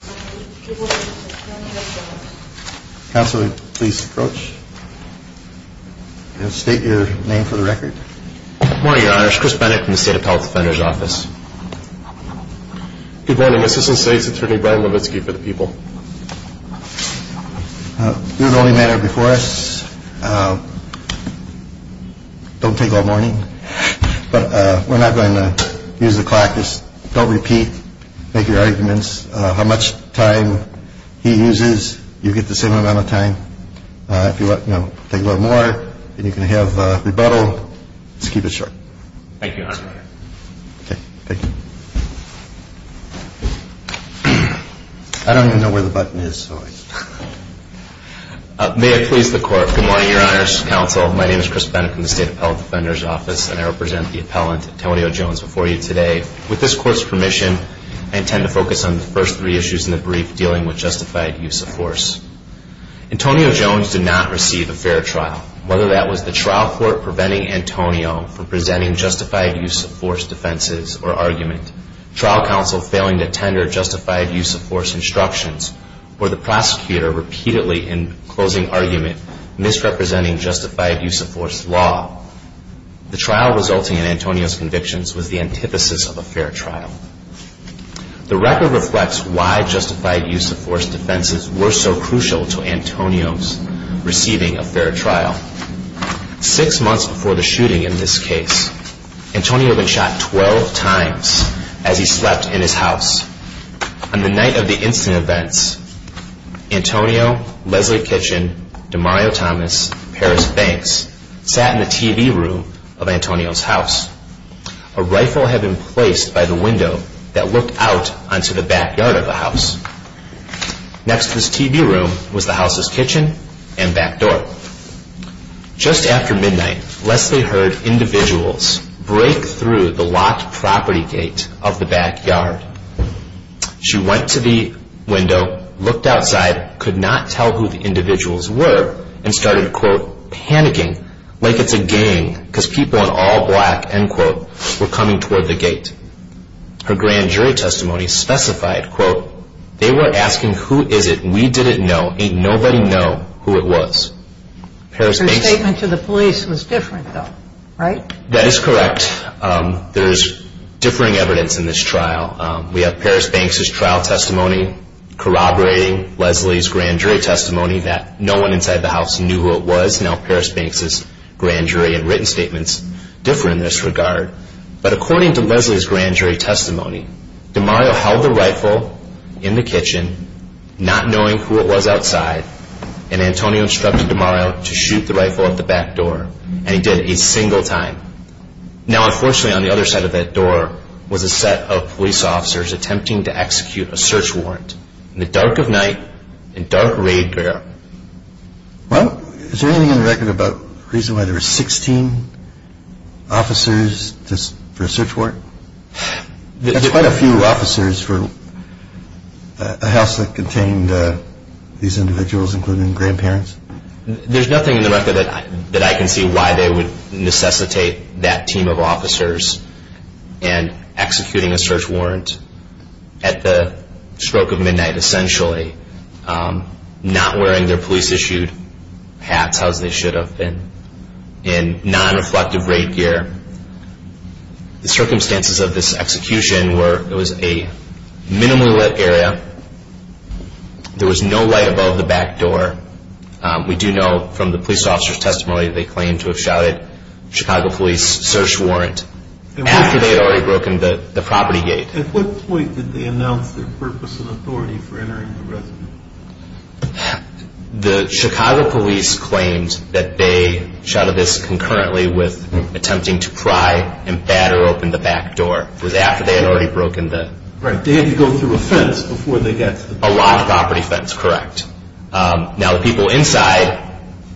Good morning, your honor. It's Chris Bennett from the State Appellate Defender's Office. Good morning, assistant state's attorney Brian Levitsky for the people. Do the only manner before us. Don't take all morning. But we're not going to use the clock. Just don't repeat. Make your arguments. How much time he uses, you get the same amount of time. If you want to take a little more, then you can have rebuttal. Let's keep it short. Thank you, your honor. Okay. Thank you. I don't even know where the button is. May I please the court. Good morning, your honor's counsel. My name is Chris Bennett from the State Appellate Defender's Office and I represent the appellant Antonio Jones before you today. With this court's permission, I intend to focus on the first three issues in the brief dealing with justified use of force. Antonio Jones did not receive a fair trial. Whether that was the trial court preventing Antonio from presenting justified use of force defenses or argument, trial counsel failing to tender justified use of force instructions, or the prosecutor repeatedly in closing argument misrepresenting justified use of force law, the trial resulting in Antonio's convictions was the antithesis of a fair trial. The record reflects why justified use of force defenses were so crucial to Antonio's receiving a fair trial. Six months before the shooting in this case, Antonio had been shot 12 times as he slept in his house. On the night of the incident events, Antonio, Leslie Kitchen, DeMario Thomas, Paris Banks sat in the TV room of Antonio's house. A rifle had been placed by the window that looked out onto the backyard of the house. Next to this TV room was the house's kitchen and back door. Just after midnight, Leslie heard individuals break through the locked property gate of the backyard. She went to the window, looked outside, could not tell who the individuals were, and started, quote, panicking like it's a gang because people in all black, end quote, were coming toward the gate. They were asking, who is it? We didn't know. Ain't nobody know who it was. Her statement to the police was different though, right? That is correct. There is differing evidence in this trial. We have Paris Banks' trial testimony corroborating Leslie's grand jury testimony that no one inside the house knew who it was. Now Paris Banks' grand jury and written statements differ in this regard. But according to Leslie's grand jury testimony, DeMario held the rifle in the kitchen, not knowing who it was outside, and Antonio instructed DeMario to shoot the rifle at the back door. And he did it a single time. Now unfortunately on the other side of that door was a set of police officers attempting to execute a search warrant. In the dark of night, in dark raid garrison. Well, is there anything in the record about the reason why there were 16 officers for a search warrant? That's quite a few officers for a house that contained these individuals, including grandparents. There's nothing in the record that I can see why they would necessitate that team of officers and executing a search warrant at the stroke of midnight essentially, not wearing their police-issued hats, as they should have been, in non-reflective raid gear. The circumstances of this execution were it was a minimally lit area. There was no light above the back door. We do know from the police officers' testimony they claimed to have shouted, Chicago Police, search warrant, after they had already broken the property gate. At what point did they announce their purpose and authority for entering the residence? The Chicago Police claimed that they shouted this concurrently with attempting to pry and batter open the back door. It was after they had already broken the… Right, they had to go through a fence before they got to the back door. A live property fence, correct. Now the people inside,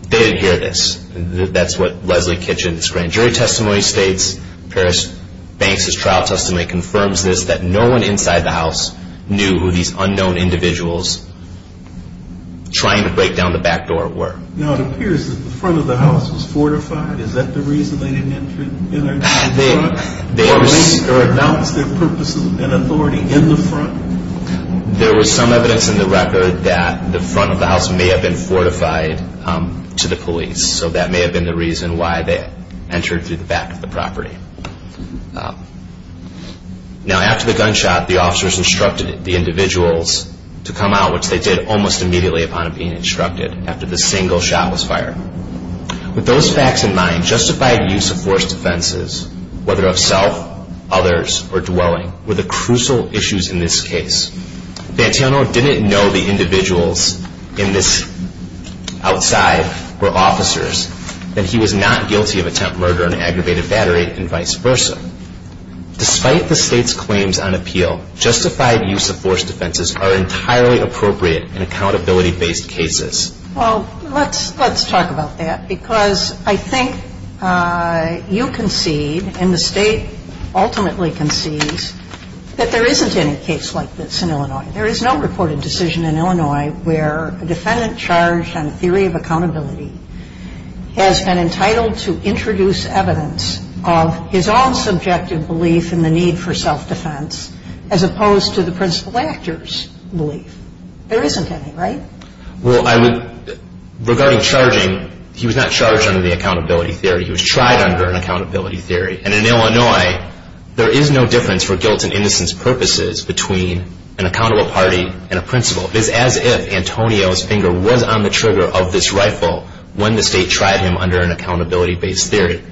they didn't hear this. That's what Leslie Kitchen's grand jury testimony states. Paris Banks' trial testimony confirms this, that no one inside the house knew who these unknown individuals trying to break down the back door were. Now it appears that the front of the house was fortified. Is that the reason they didn't enter in the front? Or at least they announced their purpose and authority in the front? There was some evidence in the record that the front of the house may have been fortified to the police. So that may have been the reason why they entered through the back of the property. Now after the gunshot, the officers instructed the individuals to come out, which they did almost immediately upon being instructed, after the single shot was fired. With those facts in mind, justified use of force defenses, whether of self, others, or dwelling, were the crucial issues in this case. Vantiano didn't know the individuals outside were officers, that he was not guilty of attempt murder and aggravated battery, and vice versa. Despite the state's claims on appeal, justified use of force defenses are entirely appropriate in accountability-based cases. Well, let's talk about that, because I think you concede, and the state ultimately concedes, that there isn't any case like this in Illinois. There is no reported decision in Illinois where a defendant charged on a theory of accountability has been entitled to introduce evidence of his own subjective belief in the need for self-defense, as opposed to the principal actor's belief. There isn't any, right? Well, regarding charging, he was not charged under the accountability theory. He was tried under an accountability theory. And in Illinois, there is no difference for guilt and innocence purposes between an accountable party and a principal. It is as if Antonio's finger was on the trigger of this rifle when the state tried him under an accountability-based theory.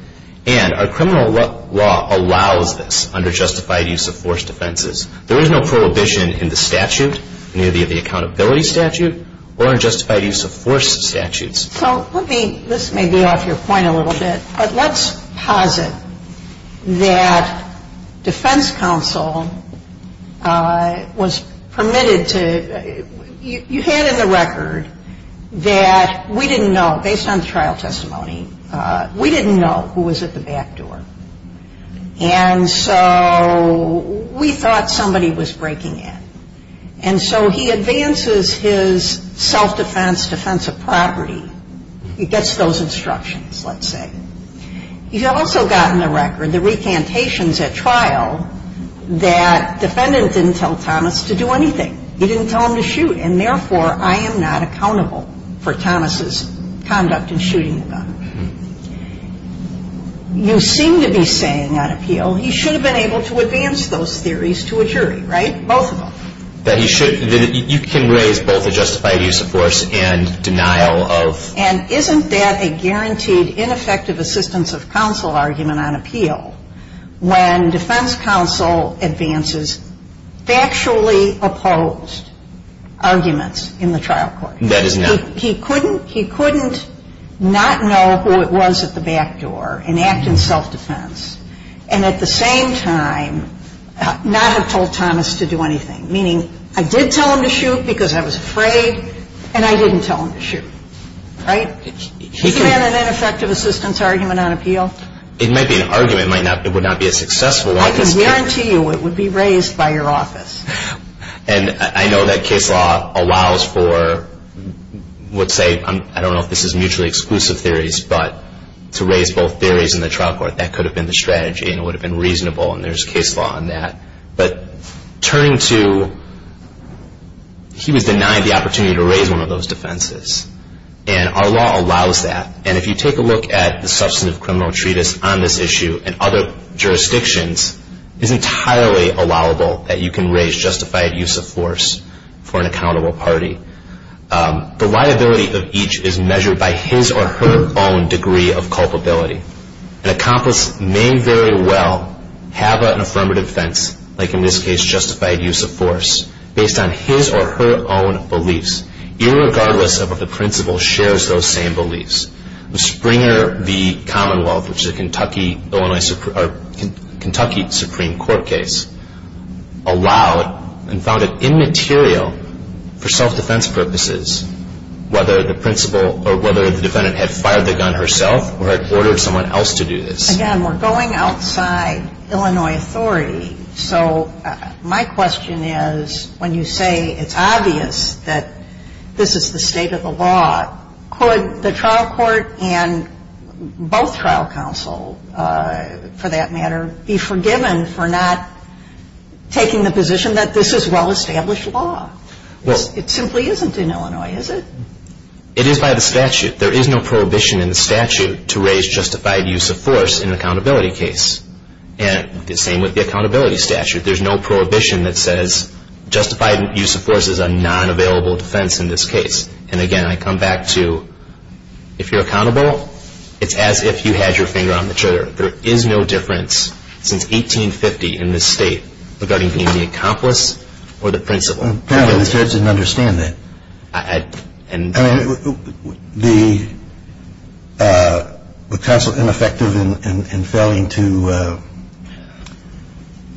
And our criminal law allows this under justified use of force defenses. There is no prohibition in the statute, neither the accountability statute or in justified use of force statutes. So let me, this may be off your point a little bit, but let's posit that defense counsel was permitted to, you had in the record that we didn't know, based on the trial testimony, we didn't know who was at the back door. And so we thought somebody was breaking in. And so he advances his self-defense, defensive property. He gets those instructions, let's say. He's also got in the record the recantations at trial that defendant didn't tell Thomas to do anything. He didn't tell him to shoot. And therefore, I am not accountable for Thomas' conduct in shooting the gun. You seem to be saying, on appeal, he should have been able to advance those theories to a jury, right? Both of them. That he should, you can raise both a justified use of force and denial of. And isn't that a guaranteed ineffective assistance of counsel argument on appeal when defense counsel advances factually opposed arguments in the trial court? That is not. He couldn't not know who it was at the back door and act in self-defense and at the same time not have told Thomas to do anything, meaning I did tell him to shoot because I was afraid, and I didn't tell him to shoot, right? Isn't that an ineffective assistance argument on appeal? It might be an argument. It would not be a successful one. I can guarantee you it would be raised by your office. And I know that case law allows for, let's say, I don't know if this is mutually exclusive theories, but to raise both theories in the trial court, that could have been the strategy and it would have been reasonable, and there's case law on that. But turning to he was denied the opportunity to raise one of those defenses, and our law allows that. And if you take a look at the substantive criminal treatise on this issue and other jurisdictions, it's entirely allowable that you can raise justified use of force for an accountable party. The liability of each is measured by his or her own degree of culpability. An accomplice may very well have an affirmative defense, like in this case justified use of force, based on his or her own beliefs, irregardless of if the principal shares those same beliefs. Springer v. Commonwealth, which is a Kentucky Supreme Court case, allowed and found it immaterial for self-defense purposes, whether the principal or whether the defendant had fired the gun herself or had ordered someone else to do this. Again, we're going outside Illinois authority, so my question is when you say it's obvious that this is the state of the law, could the trial court and both trial counsel, for that matter, be forgiven for not taking the position that this is well-established law? It simply isn't in Illinois, is it? It is by the statute. There is no prohibition in the statute to raise justified use of force in an accountability case. And the same with the accountability statute. There's no prohibition that says justified use of force is a non-available defense in this case. And, again, I come back to if you're accountable, it's as if you had your finger on the trigger. There is no difference since 1850 in this state regarding being the accomplice or the principal. Apparently the judge didn't understand that. I mean, was counsel ineffective in failing to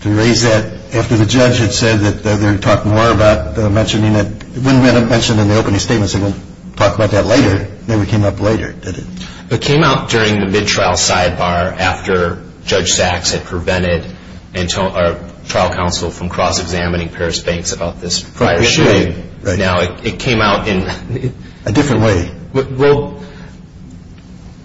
raise that after the judge had said that they were going to talk more about mentioning it? It wouldn't have been mentioned in the opening statements. They wouldn't have talked about that later. It never came up later, did it? It came out during the mid-trial sidebar after Judge Sachs had prevented trial counsel from cross-examining Paris Banks about this prior shooting. Now it came out in a different way. Well,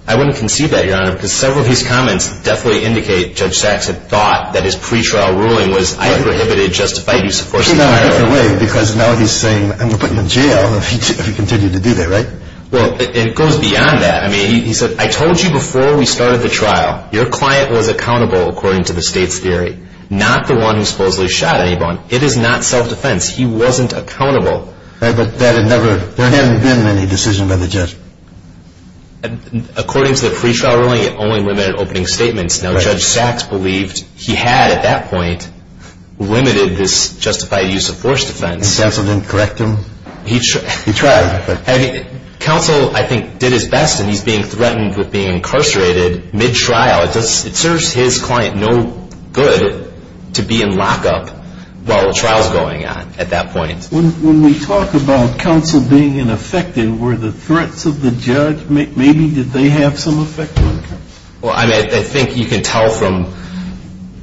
I wouldn't concede that, Your Honor, because several of his comments definitely indicate Judge Sachs had thought that his pre-trial ruling was I prohibited justified use of force. It came out in a different way because now he's saying I'm going to put him in jail if he continued to do that, right? Well, it goes beyond that. I mean, he said, I told you before we started the trial, your client was accountable according to the state's theory, not the one who supposedly shot anybody. It is not self-defense. He wasn't accountable. There hadn't been any decision by the judge. According to the pre-trial ruling, it only limited opening statements. Now Judge Sachs believed he had at that point limited this justified use of force defense. And counsel didn't correct him? He tried. Counsel, I think, did his best, and he's being threatened with being incarcerated mid-trial. It serves his client no good to be in lockup while the trial's going on at that point. When we talk about counsel being ineffective, were the threats of the judge, maybe did they have some effect on counsel? Well, I think you can tell from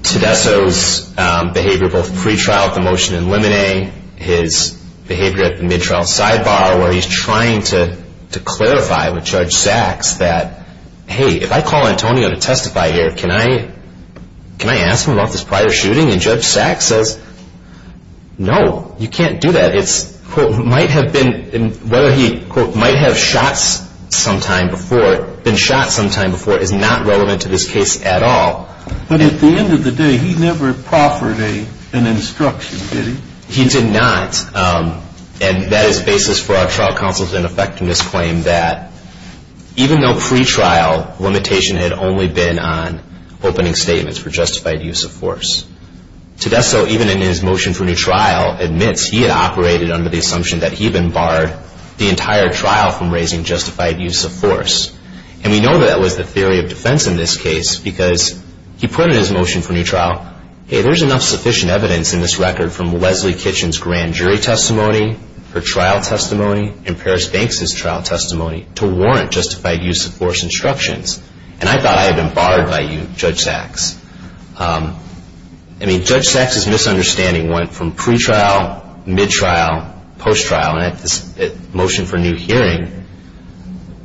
Tedesco's behavior both pre-trial with the motion in limine, his behavior at the mid-trial sidebar where he's trying to clarify with Judge Sachs that, hey, if I call Antonio to testify here, can I ask him about this prior shooting? And Judge Sachs says, no, you can't do that. It's, quote, might have been, whether he, quote, might have shot sometime before, been shot sometime before is not relevant to this case at all. But at the end of the day, he never proffered an instruction, did he? He did not. And that is basis for our trial counsel's ineffectiveness claim that even though pre-trial, limitation had only been on opening statements for justified use of force, Tedesco, even in his motion for new trial, admits he had operated under the assumption that he had barred the entire trial from raising justified use of force. And we know that was the theory of defense in this case because he put in his motion for new trial, hey, there's enough sufficient evidence in this record from Leslie Kitchen's grand jury testimony, her trial testimony, and Paris Banks' trial testimony to warrant justified use of force instructions. And I thought I had been barred by you, Judge Sachs. I mean, Judge Sachs' misunderstanding went from pre-trial, mid-trial, post-trial. And at the motion for new hearing,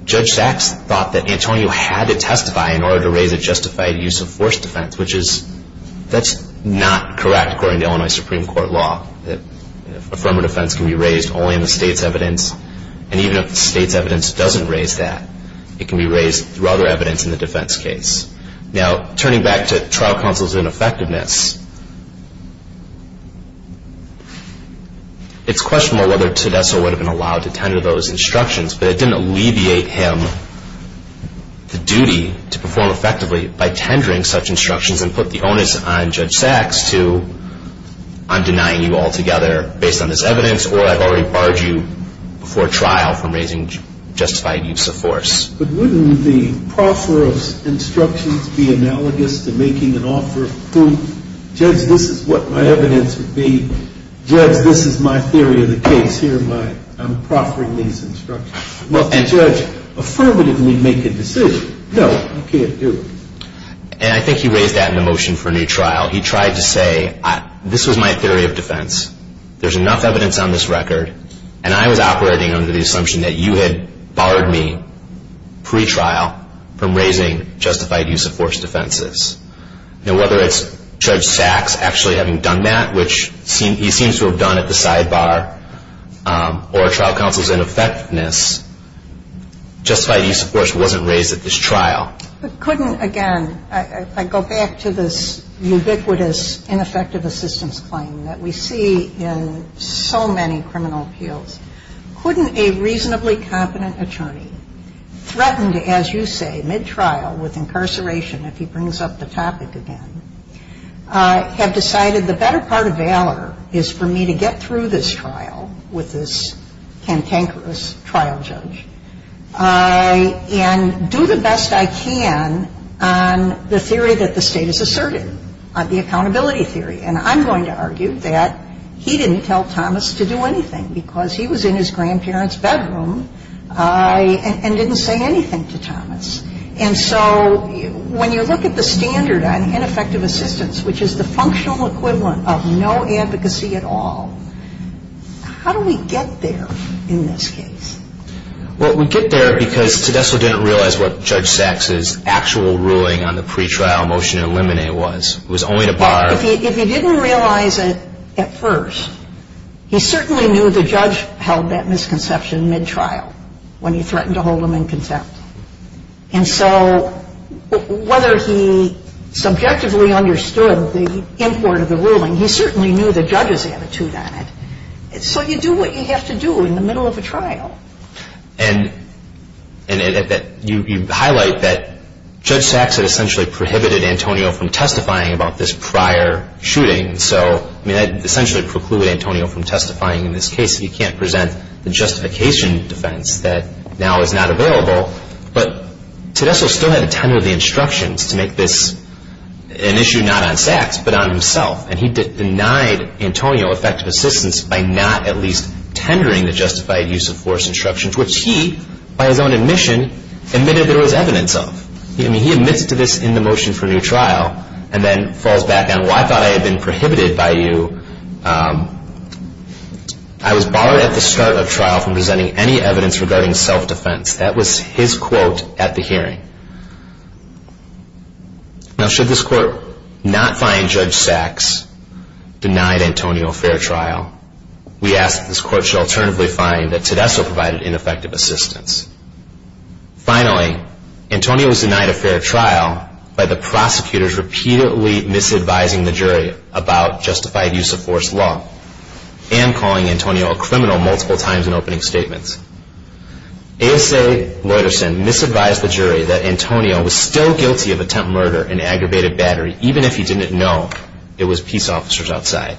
Judge Sachs thought that Antonio had to testify in order to raise a justified use of force defense, which is, that's not correct according to Illinois Supreme Court law, that affirmative defense can be raised only in the state's evidence. And even if the state's evidence doesn't raise that, it can be raised through other evidence in the defense case. Now, turning back to trial counsel's ineffectiveness, it's questionable whether Tedesco would have been allowed to tender those instructions, but it didn't alleviate him the duty to perform effectively by tendering such instructions and put the onus on Judge Sachs to, I'm denying you altogether based on this evidence, or I've already barred you before trial from raising justified use of force. But wouldn't the proffer of instructions be analogous to making an offer of proof? Judge, this is what my evidence would be. Judge, this is my theory of the case here. I'm proffering these instructions. Well, can a judge affirmatively make a decision? No, he can't do it. And I think he raised that in the motion for a new trial. He tried to say, this was my theory of defense. There's enough evidence on this record, and I was operating under the assumption that you had barred me pre-trial from raising justified use of force defenses. Now, whether it's Judge Sachs actually having done that, which he seems to have done at the sidebar, or trial counsel's ineffectiveness, justified use of force wasn't raised at this trial. But couldn't, again, I go back to this ubiquitous ineffective assistance claim that we see in so many criminal appeals. Couldn't a reasonably competent attorney, threatened, as you say, mid-trial, with incarceration if he brings up the topic again, have decided the better part of valor is for me to get through this trial with this cantankerous trial judge and do the best I can on the theory that the State has asserted, on the accountability theory. And I'm going to argue that he didn't tell Thomas to do anything because he was in his grandparents' bedroom and didn't say anything to Thomas. And so when you look at the standard on ineffective assistance, which is the functional equivalent of no advocacy at all, how do we get there in this case? Well, we get there because Tedesco didn't realize what Judge Sachs' actual ruling on the pre-trial motion to eliminate was. It was only to bar. If he didn't realize it at first, he certainly knew the judge held that misconception mid-trial when he threatened to hold him in contempt. And so whether he subjectively understood the import of the ruling, he certainly knew the judge's attitude on it. So you do what you have to do in the middle of a trial. And you highlight that Judge Sachs had essentially prohibited Antonio from testifying about this prior shooting. So that essentially precluded Antonio from testifying in this case. He can't present the justification defense that now is not available. But Tedesco still had to tender the instructions to make this an issue not on Sachs but on himself, and he denied Antonio effective assistance by not at least tendering the justified use of force instructions, which he, by his own admission, admitted there was evidence of. I mean, he admits to this in the motion for new trial and then falls back on, well, I thought I had been prohibited by you. I was barred at the start of trial from presenting any evidence regarding self-defense. That was his quote at the hearing. Now, should this court not find Judge Sachs denied Antonio a fair trial, we ask that this court shall alternatively find that Tedesco provided ineffective assistance. Finally, Antonio was denied a fair trial by the prosecutors repeatedly misadvising the jury about justified use of force law and calling Antonio a criminal multiple times in opening statements. ASA Leuterson misadvised the jury that Antonio was still guilty of attempt murder and aggravated battery, even if he didn't know it was peace officers outside.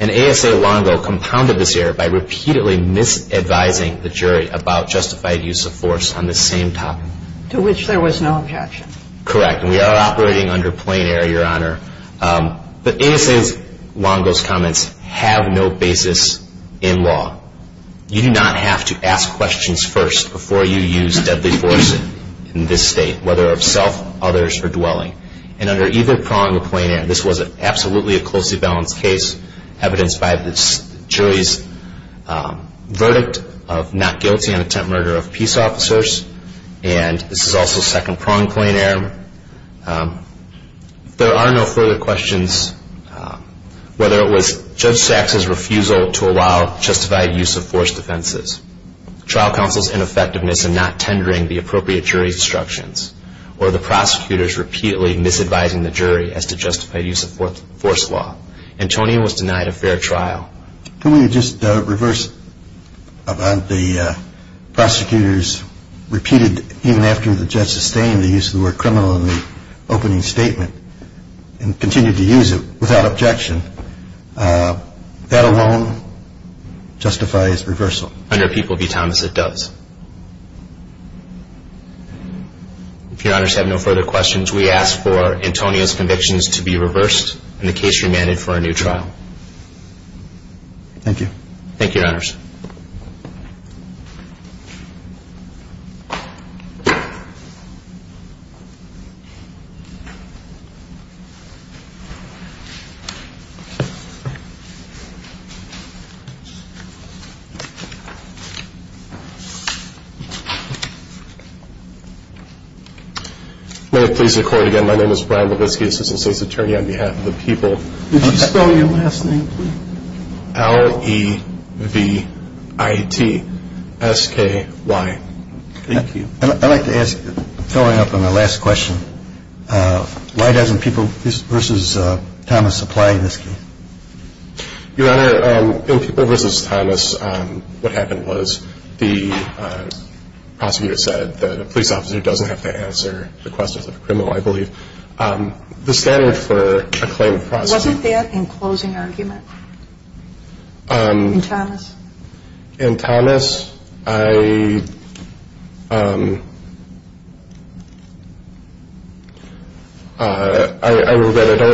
And ASA Longo compounded this error by repeatedly misadvising the jury about justified use of force on this same topic. To which there was no objection. Correct, and we are operating under plain error, Your Honor. But ASA Longo's comments have no basis in law. You do not have to ask questions first before you use deadly force in this state, whether of self, others, or dwelling. And under either prong of plain error, this was absolutely a closely balanced case, evidenced by the jury's verdict of not guilty on attempt murder of peace officers. And this is also second prong plain error. There are no further questions, whether it was Judge Sachs' refusal to allow justified use of force defenses, trial counsel's ineffectiveness in not tendering the appropriate jury instructions, or the prosecutors repeatedly misadvising the jury as to justified use of force law. Antonio was denied a fair trial. Can we just reverse about the prosecutors repeated even after the judge sustained the use of the word criminal in the opening statement and continued to use it without objection. That alone justifies reversal. Under People v. Thomas, it does. If Your Honors have no further questions, we ask for Antonio's convictions to be reversed and the case remanded for a new trial. Thank you. Thank you, Your Honors. May it please the Court again, my name is Brian Blavisky, Assistant State's Attorney on behalf of the People. Could you spell your last name, please? L-E-V-I-T-S-K-Y. Thank you. I'd like to ask, following up on the last question, why doesn't People v. Thomas apply in this case? Your Honor, in People v. Thomas, what happened was the prosecutor said that a police officer doesn't have to answer the questions of a criminal, I believe. The standard for a claim of prosecution. Wasn't that in closing argument in Thomas? In Thomas, I don't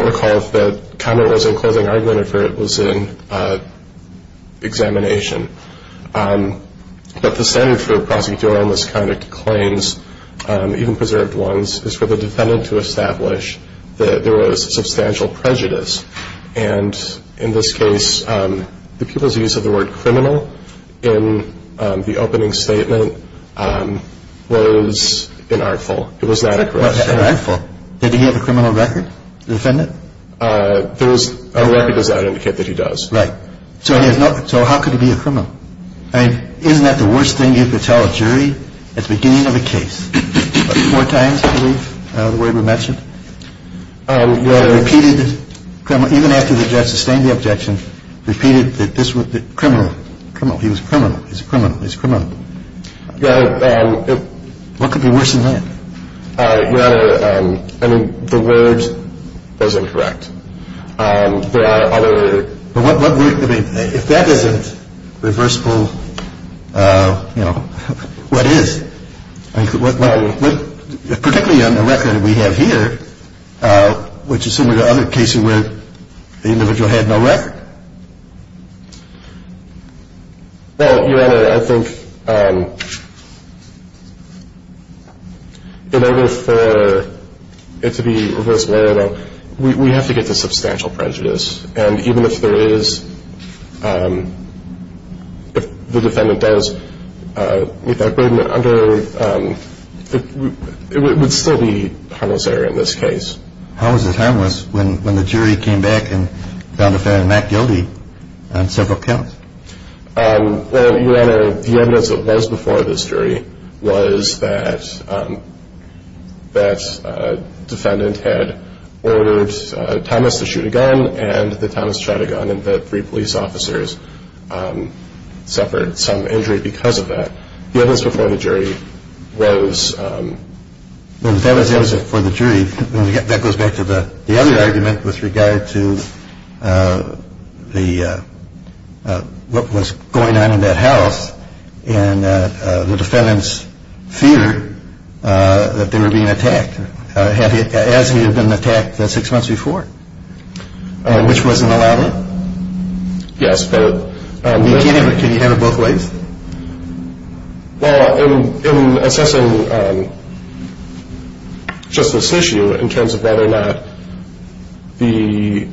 recall if that comment was in closing argument or if it was in examination. But the standard for prosecutorial misconduct claims, even preserved ones, is for the defendant to establish that there was substantial prejudice. And in this case, the people's use of the word criminal in the opening statement was inartful. It was not accurate. What's inartful? Did he have a criminal record, the defendant? A record does not indicate that he does. Right. So how could he be a criminal? I mean, isn't that the worst thing you could tell a jury at the beginning of a case? Four times, I believe, the way we mentioned. I mean, the word is incorrect. There are other. But what if that isn't reversible? You know, what is? It's not reversible. It's not reversible. Well, Your Honor, I think in order for it to be reversible or not, we have to get to substantial prejudice. And even if there is, if the defendant does meet that burden under, it would still be harmless error in this case. How is it harmless when the jury came back and found the defendant not guilty on several counts? Well, Your Honor, the evidence that was before this jury was that the defendant had ordered Thomas to shoot a gun, and that Thomas shot a gun, and that three police officers suffered some injury because of that. The evidence before the jury was... That was for the jury. That goes back to the other argument with regard to what was going on in that house, and the defendant's fear that they were being attacked as he had been attacked six months before, which wasn't allowed. Yes, but... Can you have it both ways? Well, in assessing just this issue in terms of whether or not the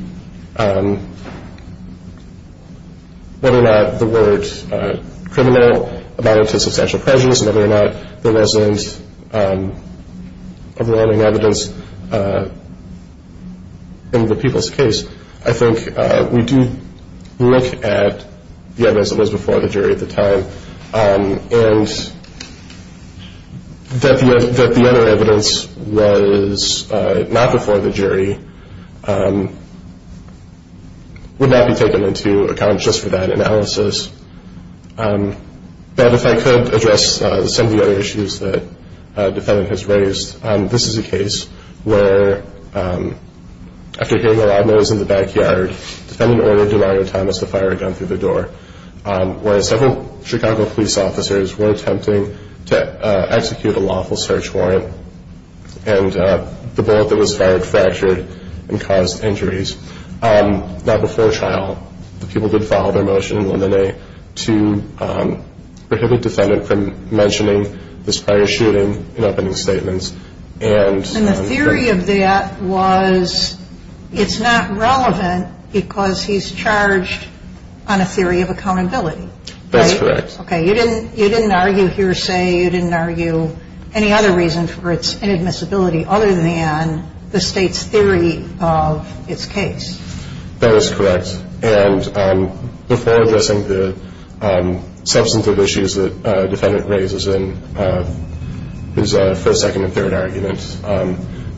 word criminal abounded to substantial prejudice and whether or not there wasn't overwhelming evidence in the people's case, I think we do look at the evidence that was before the jury at the time, and that the other evidence was not before the jury would not be taken into account just for that analysis. But if I could address some of the other issues that the defendant has raised, this is a case where, after hearing a loud noise in the backyard, the defendant ordered Demario Thomas to fire a gun through the door, whereas several Chicago police officers were attempting to execute a lawful search warrant, and the bullet that was fired fractured and caused injuries. Now, before trial, the people did file their motion in Le Monet to prohibit the defendant from mentioning this prior shooting in opening statements. And the theory of that was it's not relevant because he's charged on a theory of accountability, right? That's correct. Okay, you didn't argue hearsay, you didn't argue any other reason for its inadmissibility other than the State's theory of its case. That is correct. And before addressing the substantive issues that the defendant raises in his first, second, and third arguments,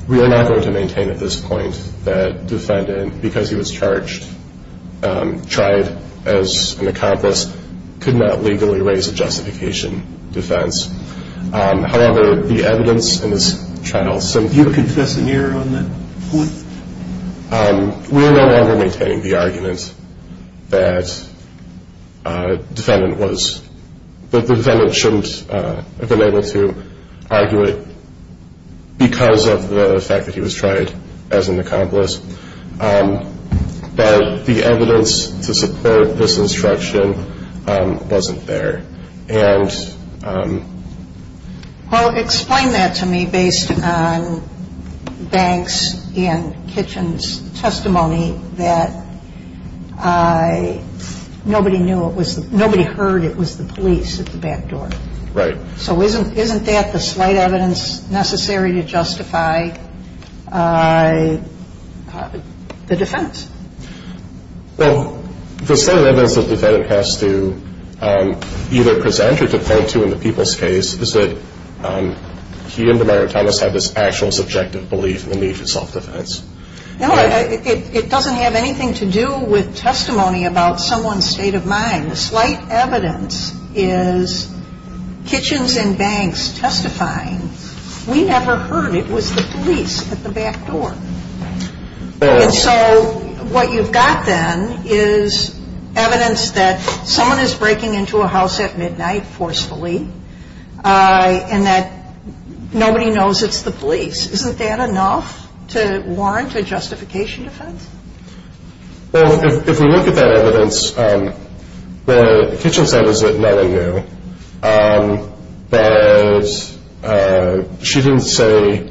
we are not going to maintain at this point that the defendant, because he was charged, tried as an accomplice, could not legally raise a justification defense. However, the evidence in this trial, some of the evidence... Do you confess an error on that point? We are no longer maintaining the argument that the defendant shouldn't have been able to argue it because of the fact that he was tried as an accomplice, that the evidence to support this instruction wasn't there. Well, explain that to me based on Banks and Kitchen's testimony that nobody heard it was the police at the back door. Right. So isn't that the slight evidence necessary to justify the defense? Well, the slight evidence the defendant has to either present or defend to in the people's case is that he and DeMario Thomas have this actual subjective belief in the need for self-defense. No, it doesn't have anything to do with testimony about someone's state of mind. The slight evidence is Kitchen's and Banks testifying, we never heard it was the police at the back door. And so what you've got then is evidence that someone is breaking into a house at midnight forcefully and that nobody knows it's the police. Isn't that enough to warrant a justification defense? Well, if we look at that evidence, what Kitchen said was that no one knew. But she didn't say,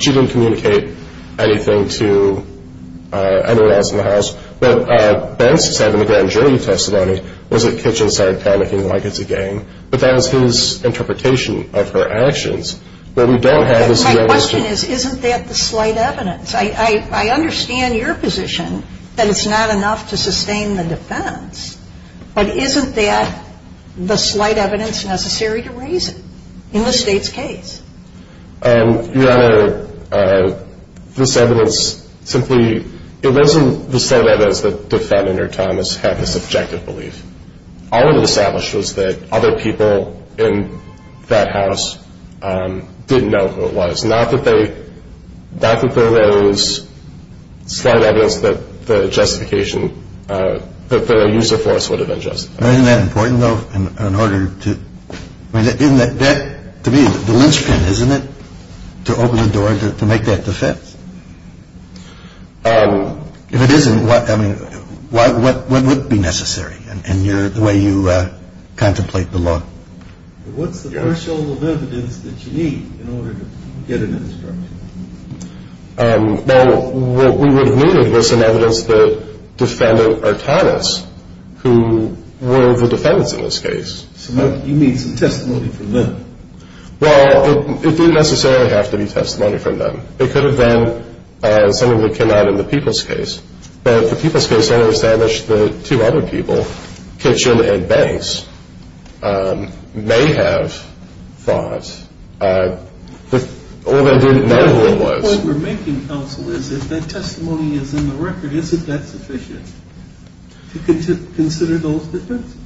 she didn't communicate anything to anyone else in the house. What Banks said in the grand jury testimony was that Kitchen started panicking like it's a game. But that was his interpretation of her actions. What we don't have is the evidence. My question is, isn't that the slight evidence? I understand your position that it's not enough to sustain the defense. But isn't that the slight evidence necessary to raise it in the state's case? Your Honor, this evidence simply, it wasn't the same evidence that defendant or Thomas had this subjective belief. All it established was that other people in that house didn't know who it was. Not that they, not that there was slight evidence that the justification, that the use of force would have been justified. Isn't that important though in order to, isn't that, to me, the linchpin, isn't it? To open the door, to make that defense. If it isn't, what, I mean, what would be necessary in your, the way you contemplate the law? What's the threshold of evidence that you need in order to get an instruction? Well, what we would have needed was some evidence that defendant or Thomas, who were the defendants in this case. So you need some testimony from them. Well, it didn't necessarily have to be testimony from them. It could have been something that came out in the Peoples case. But the Peoples case only established that two other people, Kitchen and Banks, may have thought, or they didn't know who it was. The point we're making, counsel, is if that testimony is in the record, isn't that sufficient to consider those defendants?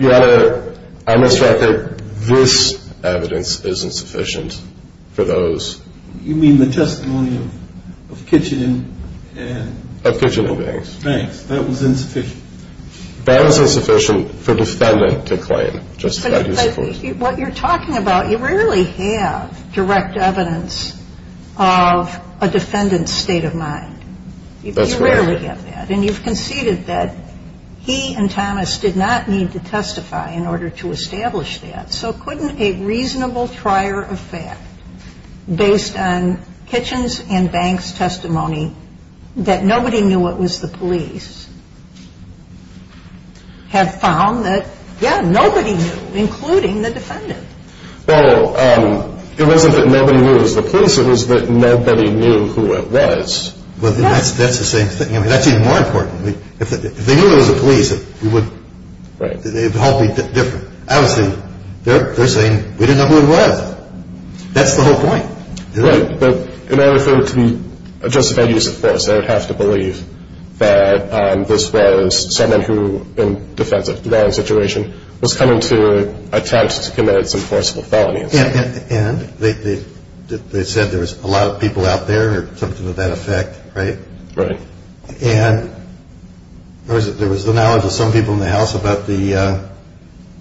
Your Honor, I must write that this evidence isn't sufficient for those. You mean the testimony of Kitchen and Banks? Of Kitchen and Banks. Banks. That was insufficient. That was insufficient for defendant to claim. But what you're talking about, you rarely have direct evidence of a defendant's state of mind. That's correct. You rarely get that. And you've conceded that he and Thomas did not need to testify in order to establish that. So couldn't a reasonable trier of fact based on Kitchen's and Banks' testimony that nobody knew it was the police have found that, yeah, nobody knew, including the defendant? Well, it wasn't that nobody knew it was the police. It was that nobody knew who it was. Well, that's the same thing. I mean, that's even more important. If they knew it was the police, it would help be different. Obviously, they're saying, we didn't know who it was. That's the whole point. Right. But in order for it to be justified use of force, they would have to believe that this was someone who, in defense of their own situation, was coming to attempt to commit some forcible felony. And they said there was a lot of people out there or something to that effect, right? Right. And there was the knowledge of some people in the house about the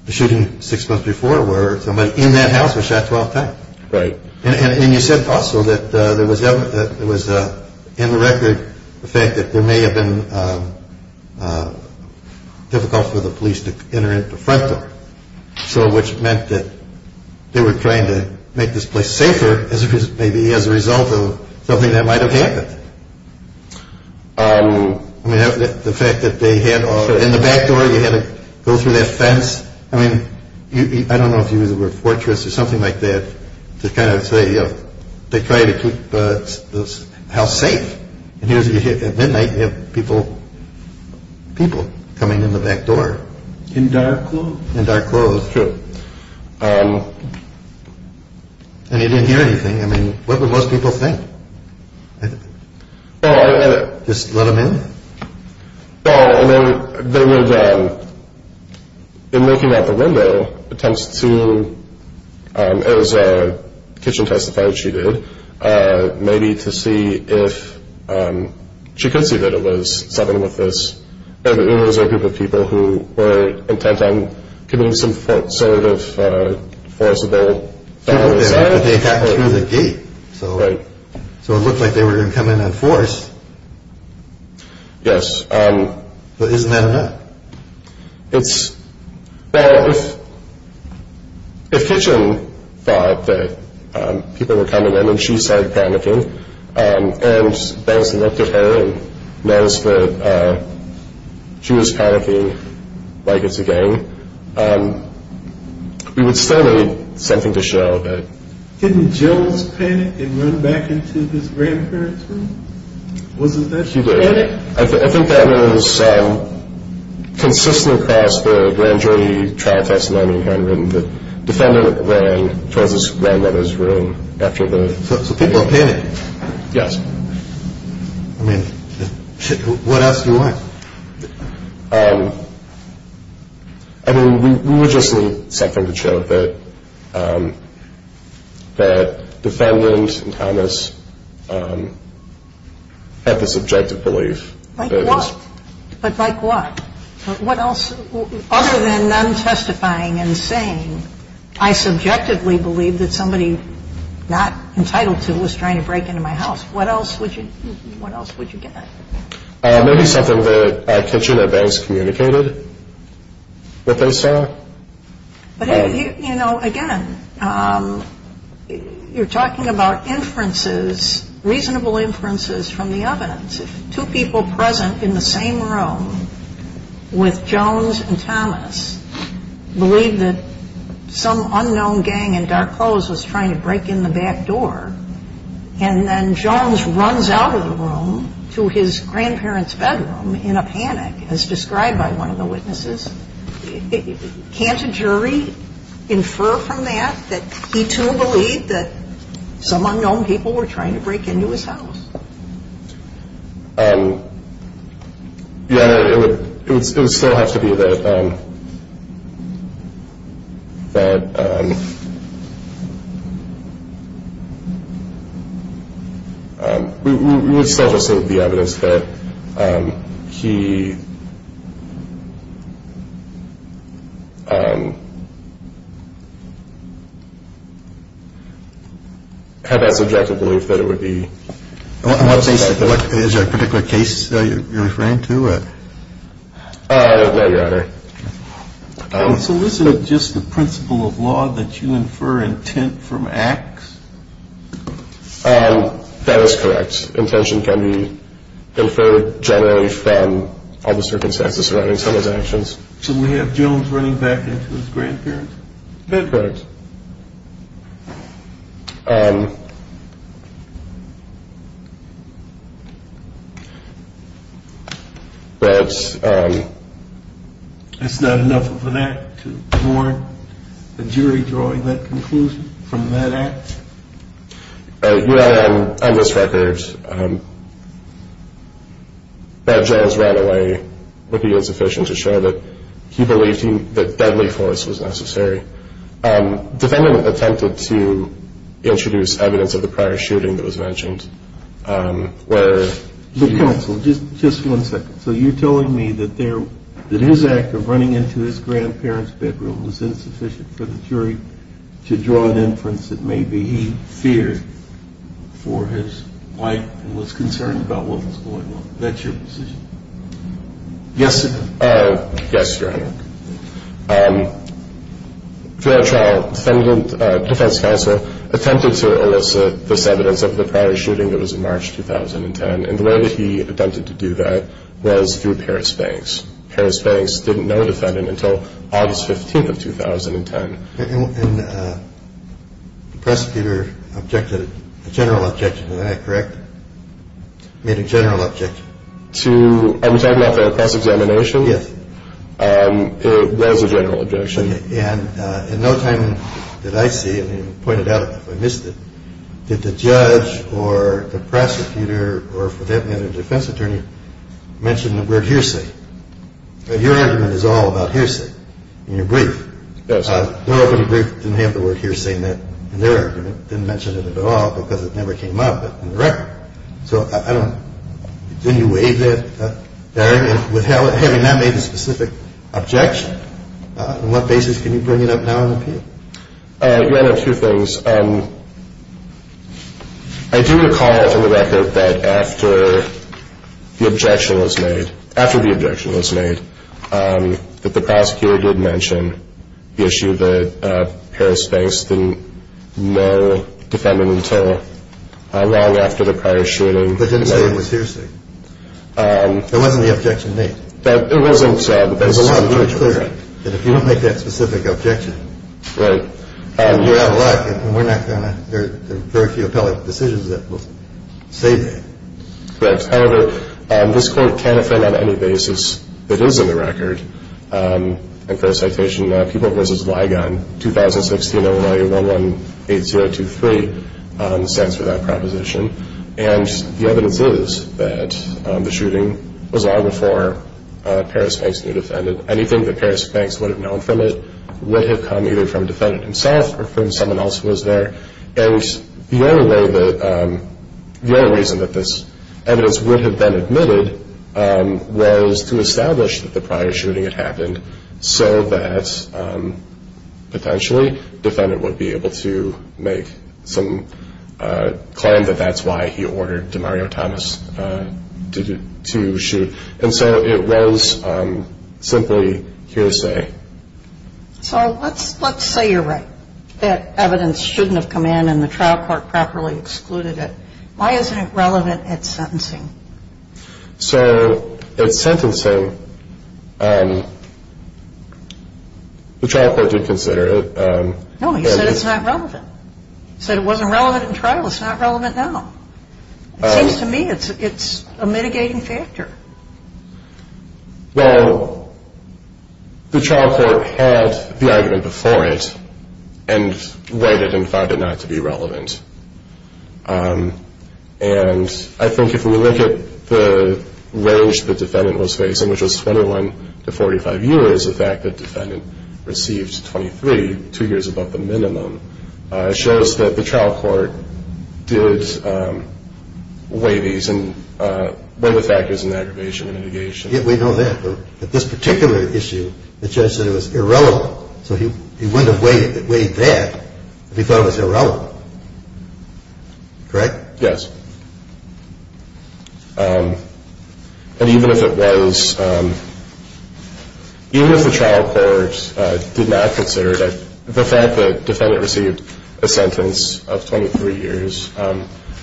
shooting six months before where somebody in that house was shot 12 times. Right. And you said also that there was in the record the fact that there may have been difficult for the police to enter into a front door, which meant that they were trying to make this place safer maybe as a result of something that might have happened. I mean, the fact that they had, in the back door, you had to go through that fence. I mean, I don't know if you use the word fortress or something like that to kind of say they tried to keep the house safe. At midnight you have people coming in the back door. In dark clothes. In dark clothes. True. And you didn't hear anything. I mean, what would most people think? Just let them in? No, I mean, they would, in looking out the window, attempts to, as Kitchen testified she did, maybe to see if she could see that it was something with this. It was a group of people who were intent on committing some sort of forcible. But they got through the gate. Right. So it looked like they were going to come in on force. Yes. But isn't that enough? It's, well, if Kitchen thought that people were coming in and she started panicking and Benson looked at her and noticed that she was panicking like it's a gang, we would still need something to show that. Didn't Jones panic and run back into his grandparents' room? Wasn't that she panicked? I think that was consistent across the grand jury trial testimony we had written. The defendant ran towards his grandmother's room after the. So people panicked. Yes. I mean, what else do you want? I mean, we would just need something to show that the defendant and Thomas had the subjective belief. But like what? What else? Other than them testifying and saying, I subjectively believe that somebody not entitled to was trying to break into my house. What else would you get? Maybe something that Kitchen or Benson communicated that they saw. But, you know, again, you're talking about inferences, reasonable inferences from the evidence. If two people present in the same room with Jones and Thomas believe that some unknown gang in dark clothes was trying to break in the back door and then Jones runs out of the room to his grandparents' bedroom in a panic, as described by one of the witnesses, can't a jury infer from that that he, too, believed that some unknown people were trying to break into his house? Yeah, it would still have to be that we would still just say the evidence that he had that subjective belief Is there a particular case you're referring to? No, Your Honor. So isn't it just the principle of law that you infer intent from acts? That is correct. Intention can be inferred generally from all the circumstances surrounding someone's actions. That's correct. But... It's not enough of an act to warrant the jury drawing that conclusion from that act? Your Honor, on this record, that Jones ran away would be insufficient to show that he believed that deadly force was necessary. Defendant attempted to introduce evidence of the prior shooting that was mentioned where... Counsel, just one second. So you're telling me that his act of running into his grandparents' bedroom was insufficient for the jury to draw an inference that maybe he feared for his life and was concerned about what was going on? Is that your position? Yes, Your Honor. For that trial, defendant, defense counsel, attempted to elicit the evidence of the prior shooting that was in March 2010. And the way that he attempted to do that was through Paris Banks. Paris Banks didn't know the defendant until August 15th of 2010. And the prosecutor objected, a general objection to that, correct? Made a general objection. I'm talking about the press examination? Yes. That was a general objection. And in no time did I see, and you pointed out if I missed it, did the judge or the prosecutor or, for that matter, the defense attorney mention the word hearsay. Your argument is all about hearsay in your brief. Yes. No other brief didn't have the word hearsay in that argument. It didn't mention it at all because it never came up in the record. So I don't, didn't you waive that, Darian? With having that made a specific objection, on what basis can you bring it up now in the appeal? Your Honor, two things. I do recall from the record that after the objection was made, after the objection was made, that the prosecutor did mention the issue that Paris Banks didn't know the defendant until long after the prior shooting. But didn't say it was hearsay. It wasn't the objection made. It wasn't said. It was a lot more clear. And if you don't make that specific objection, you're out of luck and we're not going to, there are very few appellate decisions that will say that. Correct. However, this court can affirm on any basis that is in the record, and for the citation, People v. Ligon, 2016, OLA 118023, stands for that proposition. And the evidence is that the shooting was long before Paris Banks knew the defendant. Anything that Paris Banks would have known from it would have come either from the defendant himself or from someone else who was there. And the only way that, the only reason that this evidence would have been admitted was to establish that the prior shooting had happened so that potentially the defendant would be able to make some claim that that's why he ordered DeMario Thomas to shoot. And so it was simply hearsay. So let's say you're right, that evidence shouldn't have come in and the trial court properly excluded it. Why isn't it relevant at sentencing? So at sentencing, the trial court did consider it. No, he said it's not relevant. He said it wasn't relevant in trial. It's not relevant now. It seems to me it's a mitigating factor. Well, the trial court had the argument before it and weighed it and found it not to be relevant. And I think if we look at the range the defendant was facing, which was 21 to 45 years, the fact that the defendant received 23, two years above the minimum, shows that the trial court did weigh these and when the fact is an aggravation and mitigation. Yeah, we know that. But this particular issue, the judge said it was irrelevant. So he wouldn't have weighed that if he thought it was irrelevant. Correct? Yes. And even if it was, even if the trial court did not consider it, the fact that the defendant received a sentence of 23 years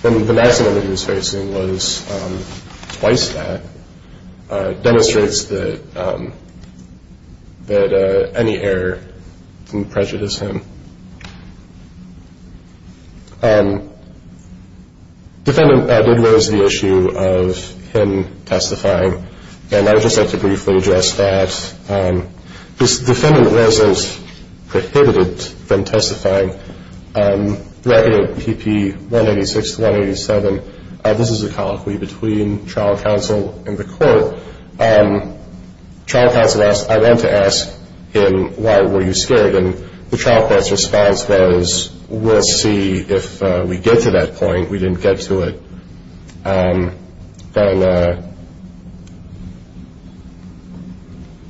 when the maximum that he was facing was twice that, demonstrates that any error can prejudice him. Defendant did raise the issue of him testifying. And I would just like to briefly address that. This defendant was prohibited from testifying. The record of P.P. 186 to 187, this is a colloquy between trial counsel and the court. Trial counsel asked, I went to ask him, why were you scared? And the trial court's response was, we'll see if we get to that point. We didn't get to it. Then,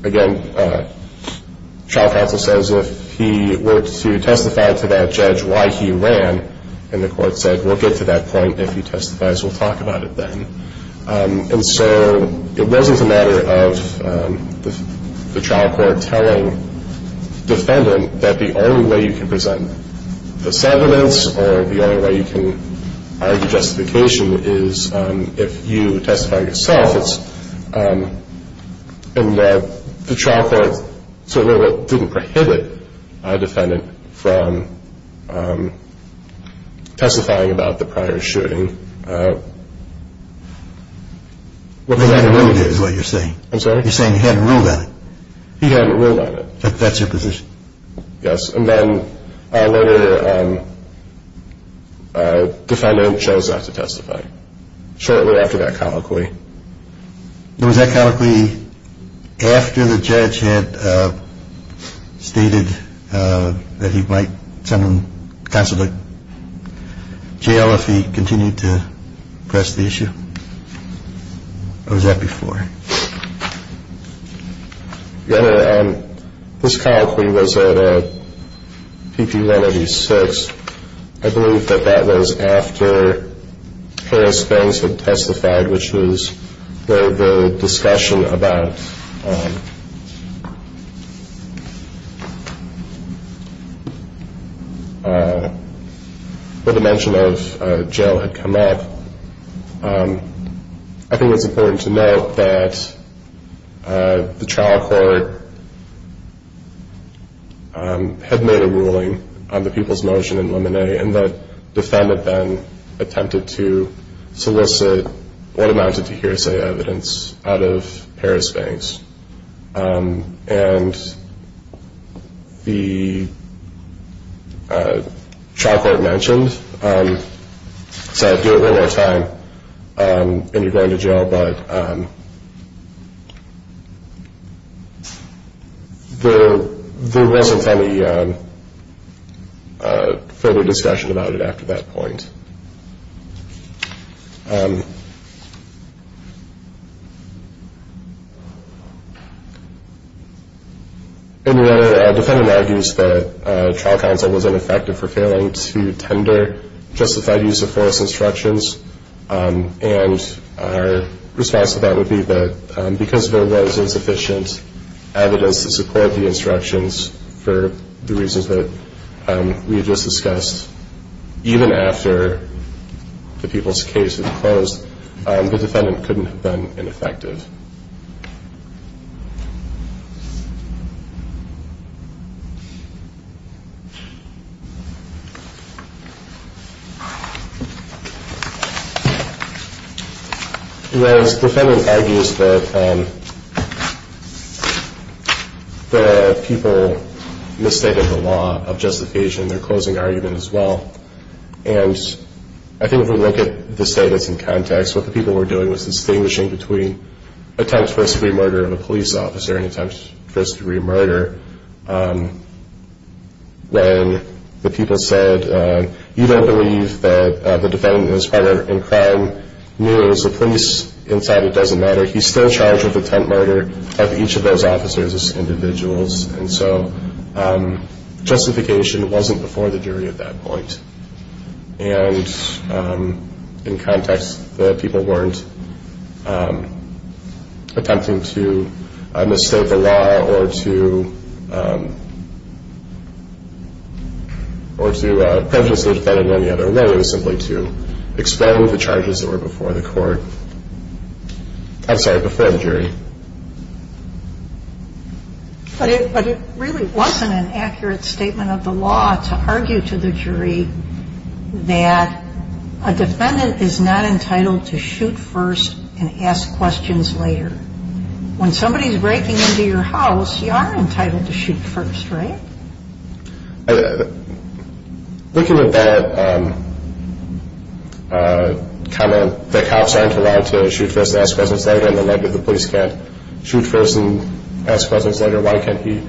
again, trial counsel says if he were to testify to that judge why he ran, and the court said, we'll get to that point if he testifies, we'll talk about it then. And so it wasn't a matter of the trial court telling defendant that the only way you can present the sentiments or the only way you can argue justification is if you testify yourself. And the trial court didn't prohibit a defendant from testifying about the prior shooting. He hadn't ruled on it is what you're saying. I'm sorry? You're saying he hadn't ruled on it. He hadn't ruled on it. That's your position? Yes. And then our later defendant chose not to testify shortly after that colloquy. Was that colloquy after the judge had stated that he might send him to jail if he continued to press the issue? Or was that before? Your Honor, this colloquy was at PP 186. I believe that that was after Harris Banks had testified, which was where the discussion about the mention of jail had come up. I think it's important to note that the trial court had made a ruling on the people's motion in Lemonet and the defendant then attempted to solicit what amounted to hearsay evidence out of Harris Banks. And the trial court mentioned, sorry, I have to do it one more time, and you're going to jail, but there wasn't any further discussion about it after that point. And your Honor, our defendant argues that trial counsel was ineffective for failing to tender justified use of force instructions, and our response to that would be that because there was insufficient evidence to support the instructions for the reasons that we had just discussed, even after the people's case had closed, the defendant couldn't have been ineffective. The defendant argues that the people misstated the law of justification in their closing argument as well. And I think if we look at the status in context, what the people were doing was distinguishing between attempts first degree murder of a police officer and attempts first degree murder, when the people said, you don't believe that the defendant is part of a crime news, the police inside it doesn't matter, he's still charged with attempt murder of each of those officers as individuals. And so justification wasn't before the jury at that point. And in context, the people weren't attempting to misstate the law or to prejudice the defendant on the other. And then it was simply to expel the charges that were before the court. I'm sorry, before the jury. But it really wasn't an accurate statement of the law to argue to the jury that a defendant is not entitled to shoot first and ask questions later. When somebody's breaking into your house, you are entitled to shoot first, right? Looking at that comment that cops aren't allowed to shoot first and ask questions later and the fact that the police can't shoot first and ask questions later, why can't he?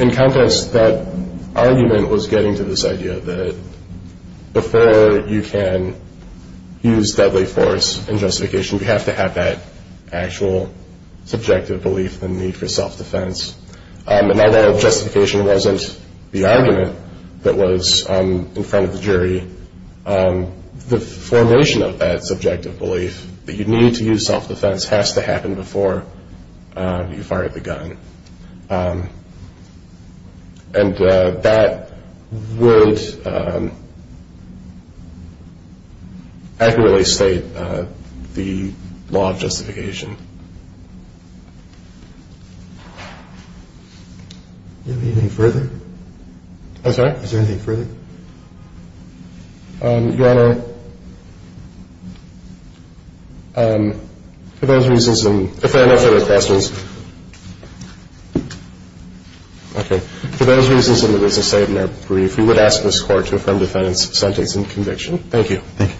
In context, that argument was getting to this idea that before you can use deadly force in justification, you have to have that actual subjective belief and need for self-defense. And although justification wasn't the argument that was in front of the jury, the formation of that subjective belief that you need to use self-defense has to happen before you fire the gun. And that would accurately state the law of justification. Do you have anything further? I'm sorry? Is there anything further? Your Honor, for those reasons and if there are no further questions, okay. For those reasons and as I said in our brief, we would ask this court to affirm defendant's sentence and conviction. Thank you. Thank you.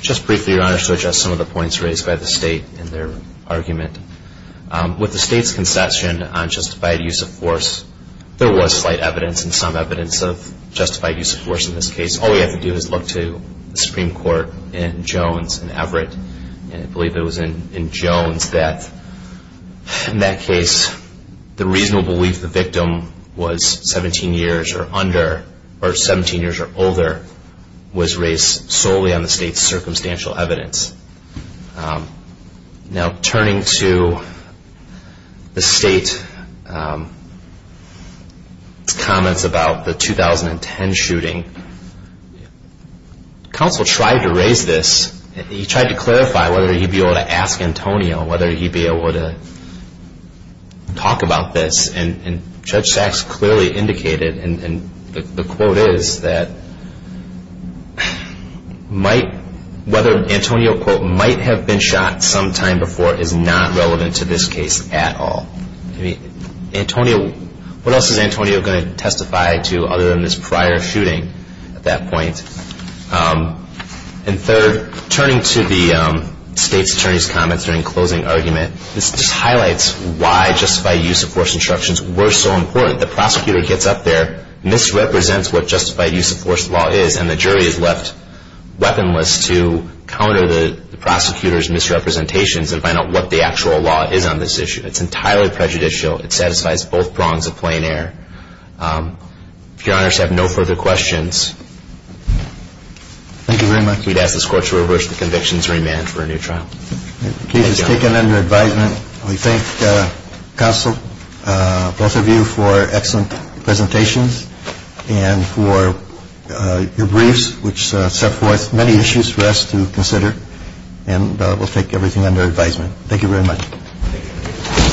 Just briefly, Your Honor, to address some of the points raised by the State in their argument. With the State's concession on justified use of force, there was slight evidence and some evidence of justified use of force in this case. All we have to do is look to the Supreme Court in Jones and Everett, and I believe it was in Jones that in that case the reasonable belief the victim was 17 years or under or 17 years or older was raised solely on the State's circumstantial evidence. Now turning to the State's comments about the 2010 shooting, counsel tried to raise this. He tried to clarify whether he'd be able to ask Antonio whether he'd be able to talk about this, and Judge Sachs clearly indicated, and the quote is, that whether Antonio, quote, might have been shot sometime before is not relevant to this case at all. Antonio, what else is Antonio going to testify to other than this prior shooting at that point? And third, turning to the State's attorney's comments during closing argument, this just highlights why justified use of force instructions were so important. The prosecutor gets up there, misrepresents what justified use of force law is, and the jury is left weaponless to counter the prosecutor's misrepresentations and find out what the actual law is on this issue. It's entirely prejudicial. It satisfies both prongs of plain error. If Your Honors have no further questions, we'd ask this Court to reverse the convictions and remand for a new trial. The case is taken under advisement. We thank counsel, both of you, for excellent presentations and for your briefs, which set forth many issues for us to consider, and we'll take everything under advisement. Thank you very much.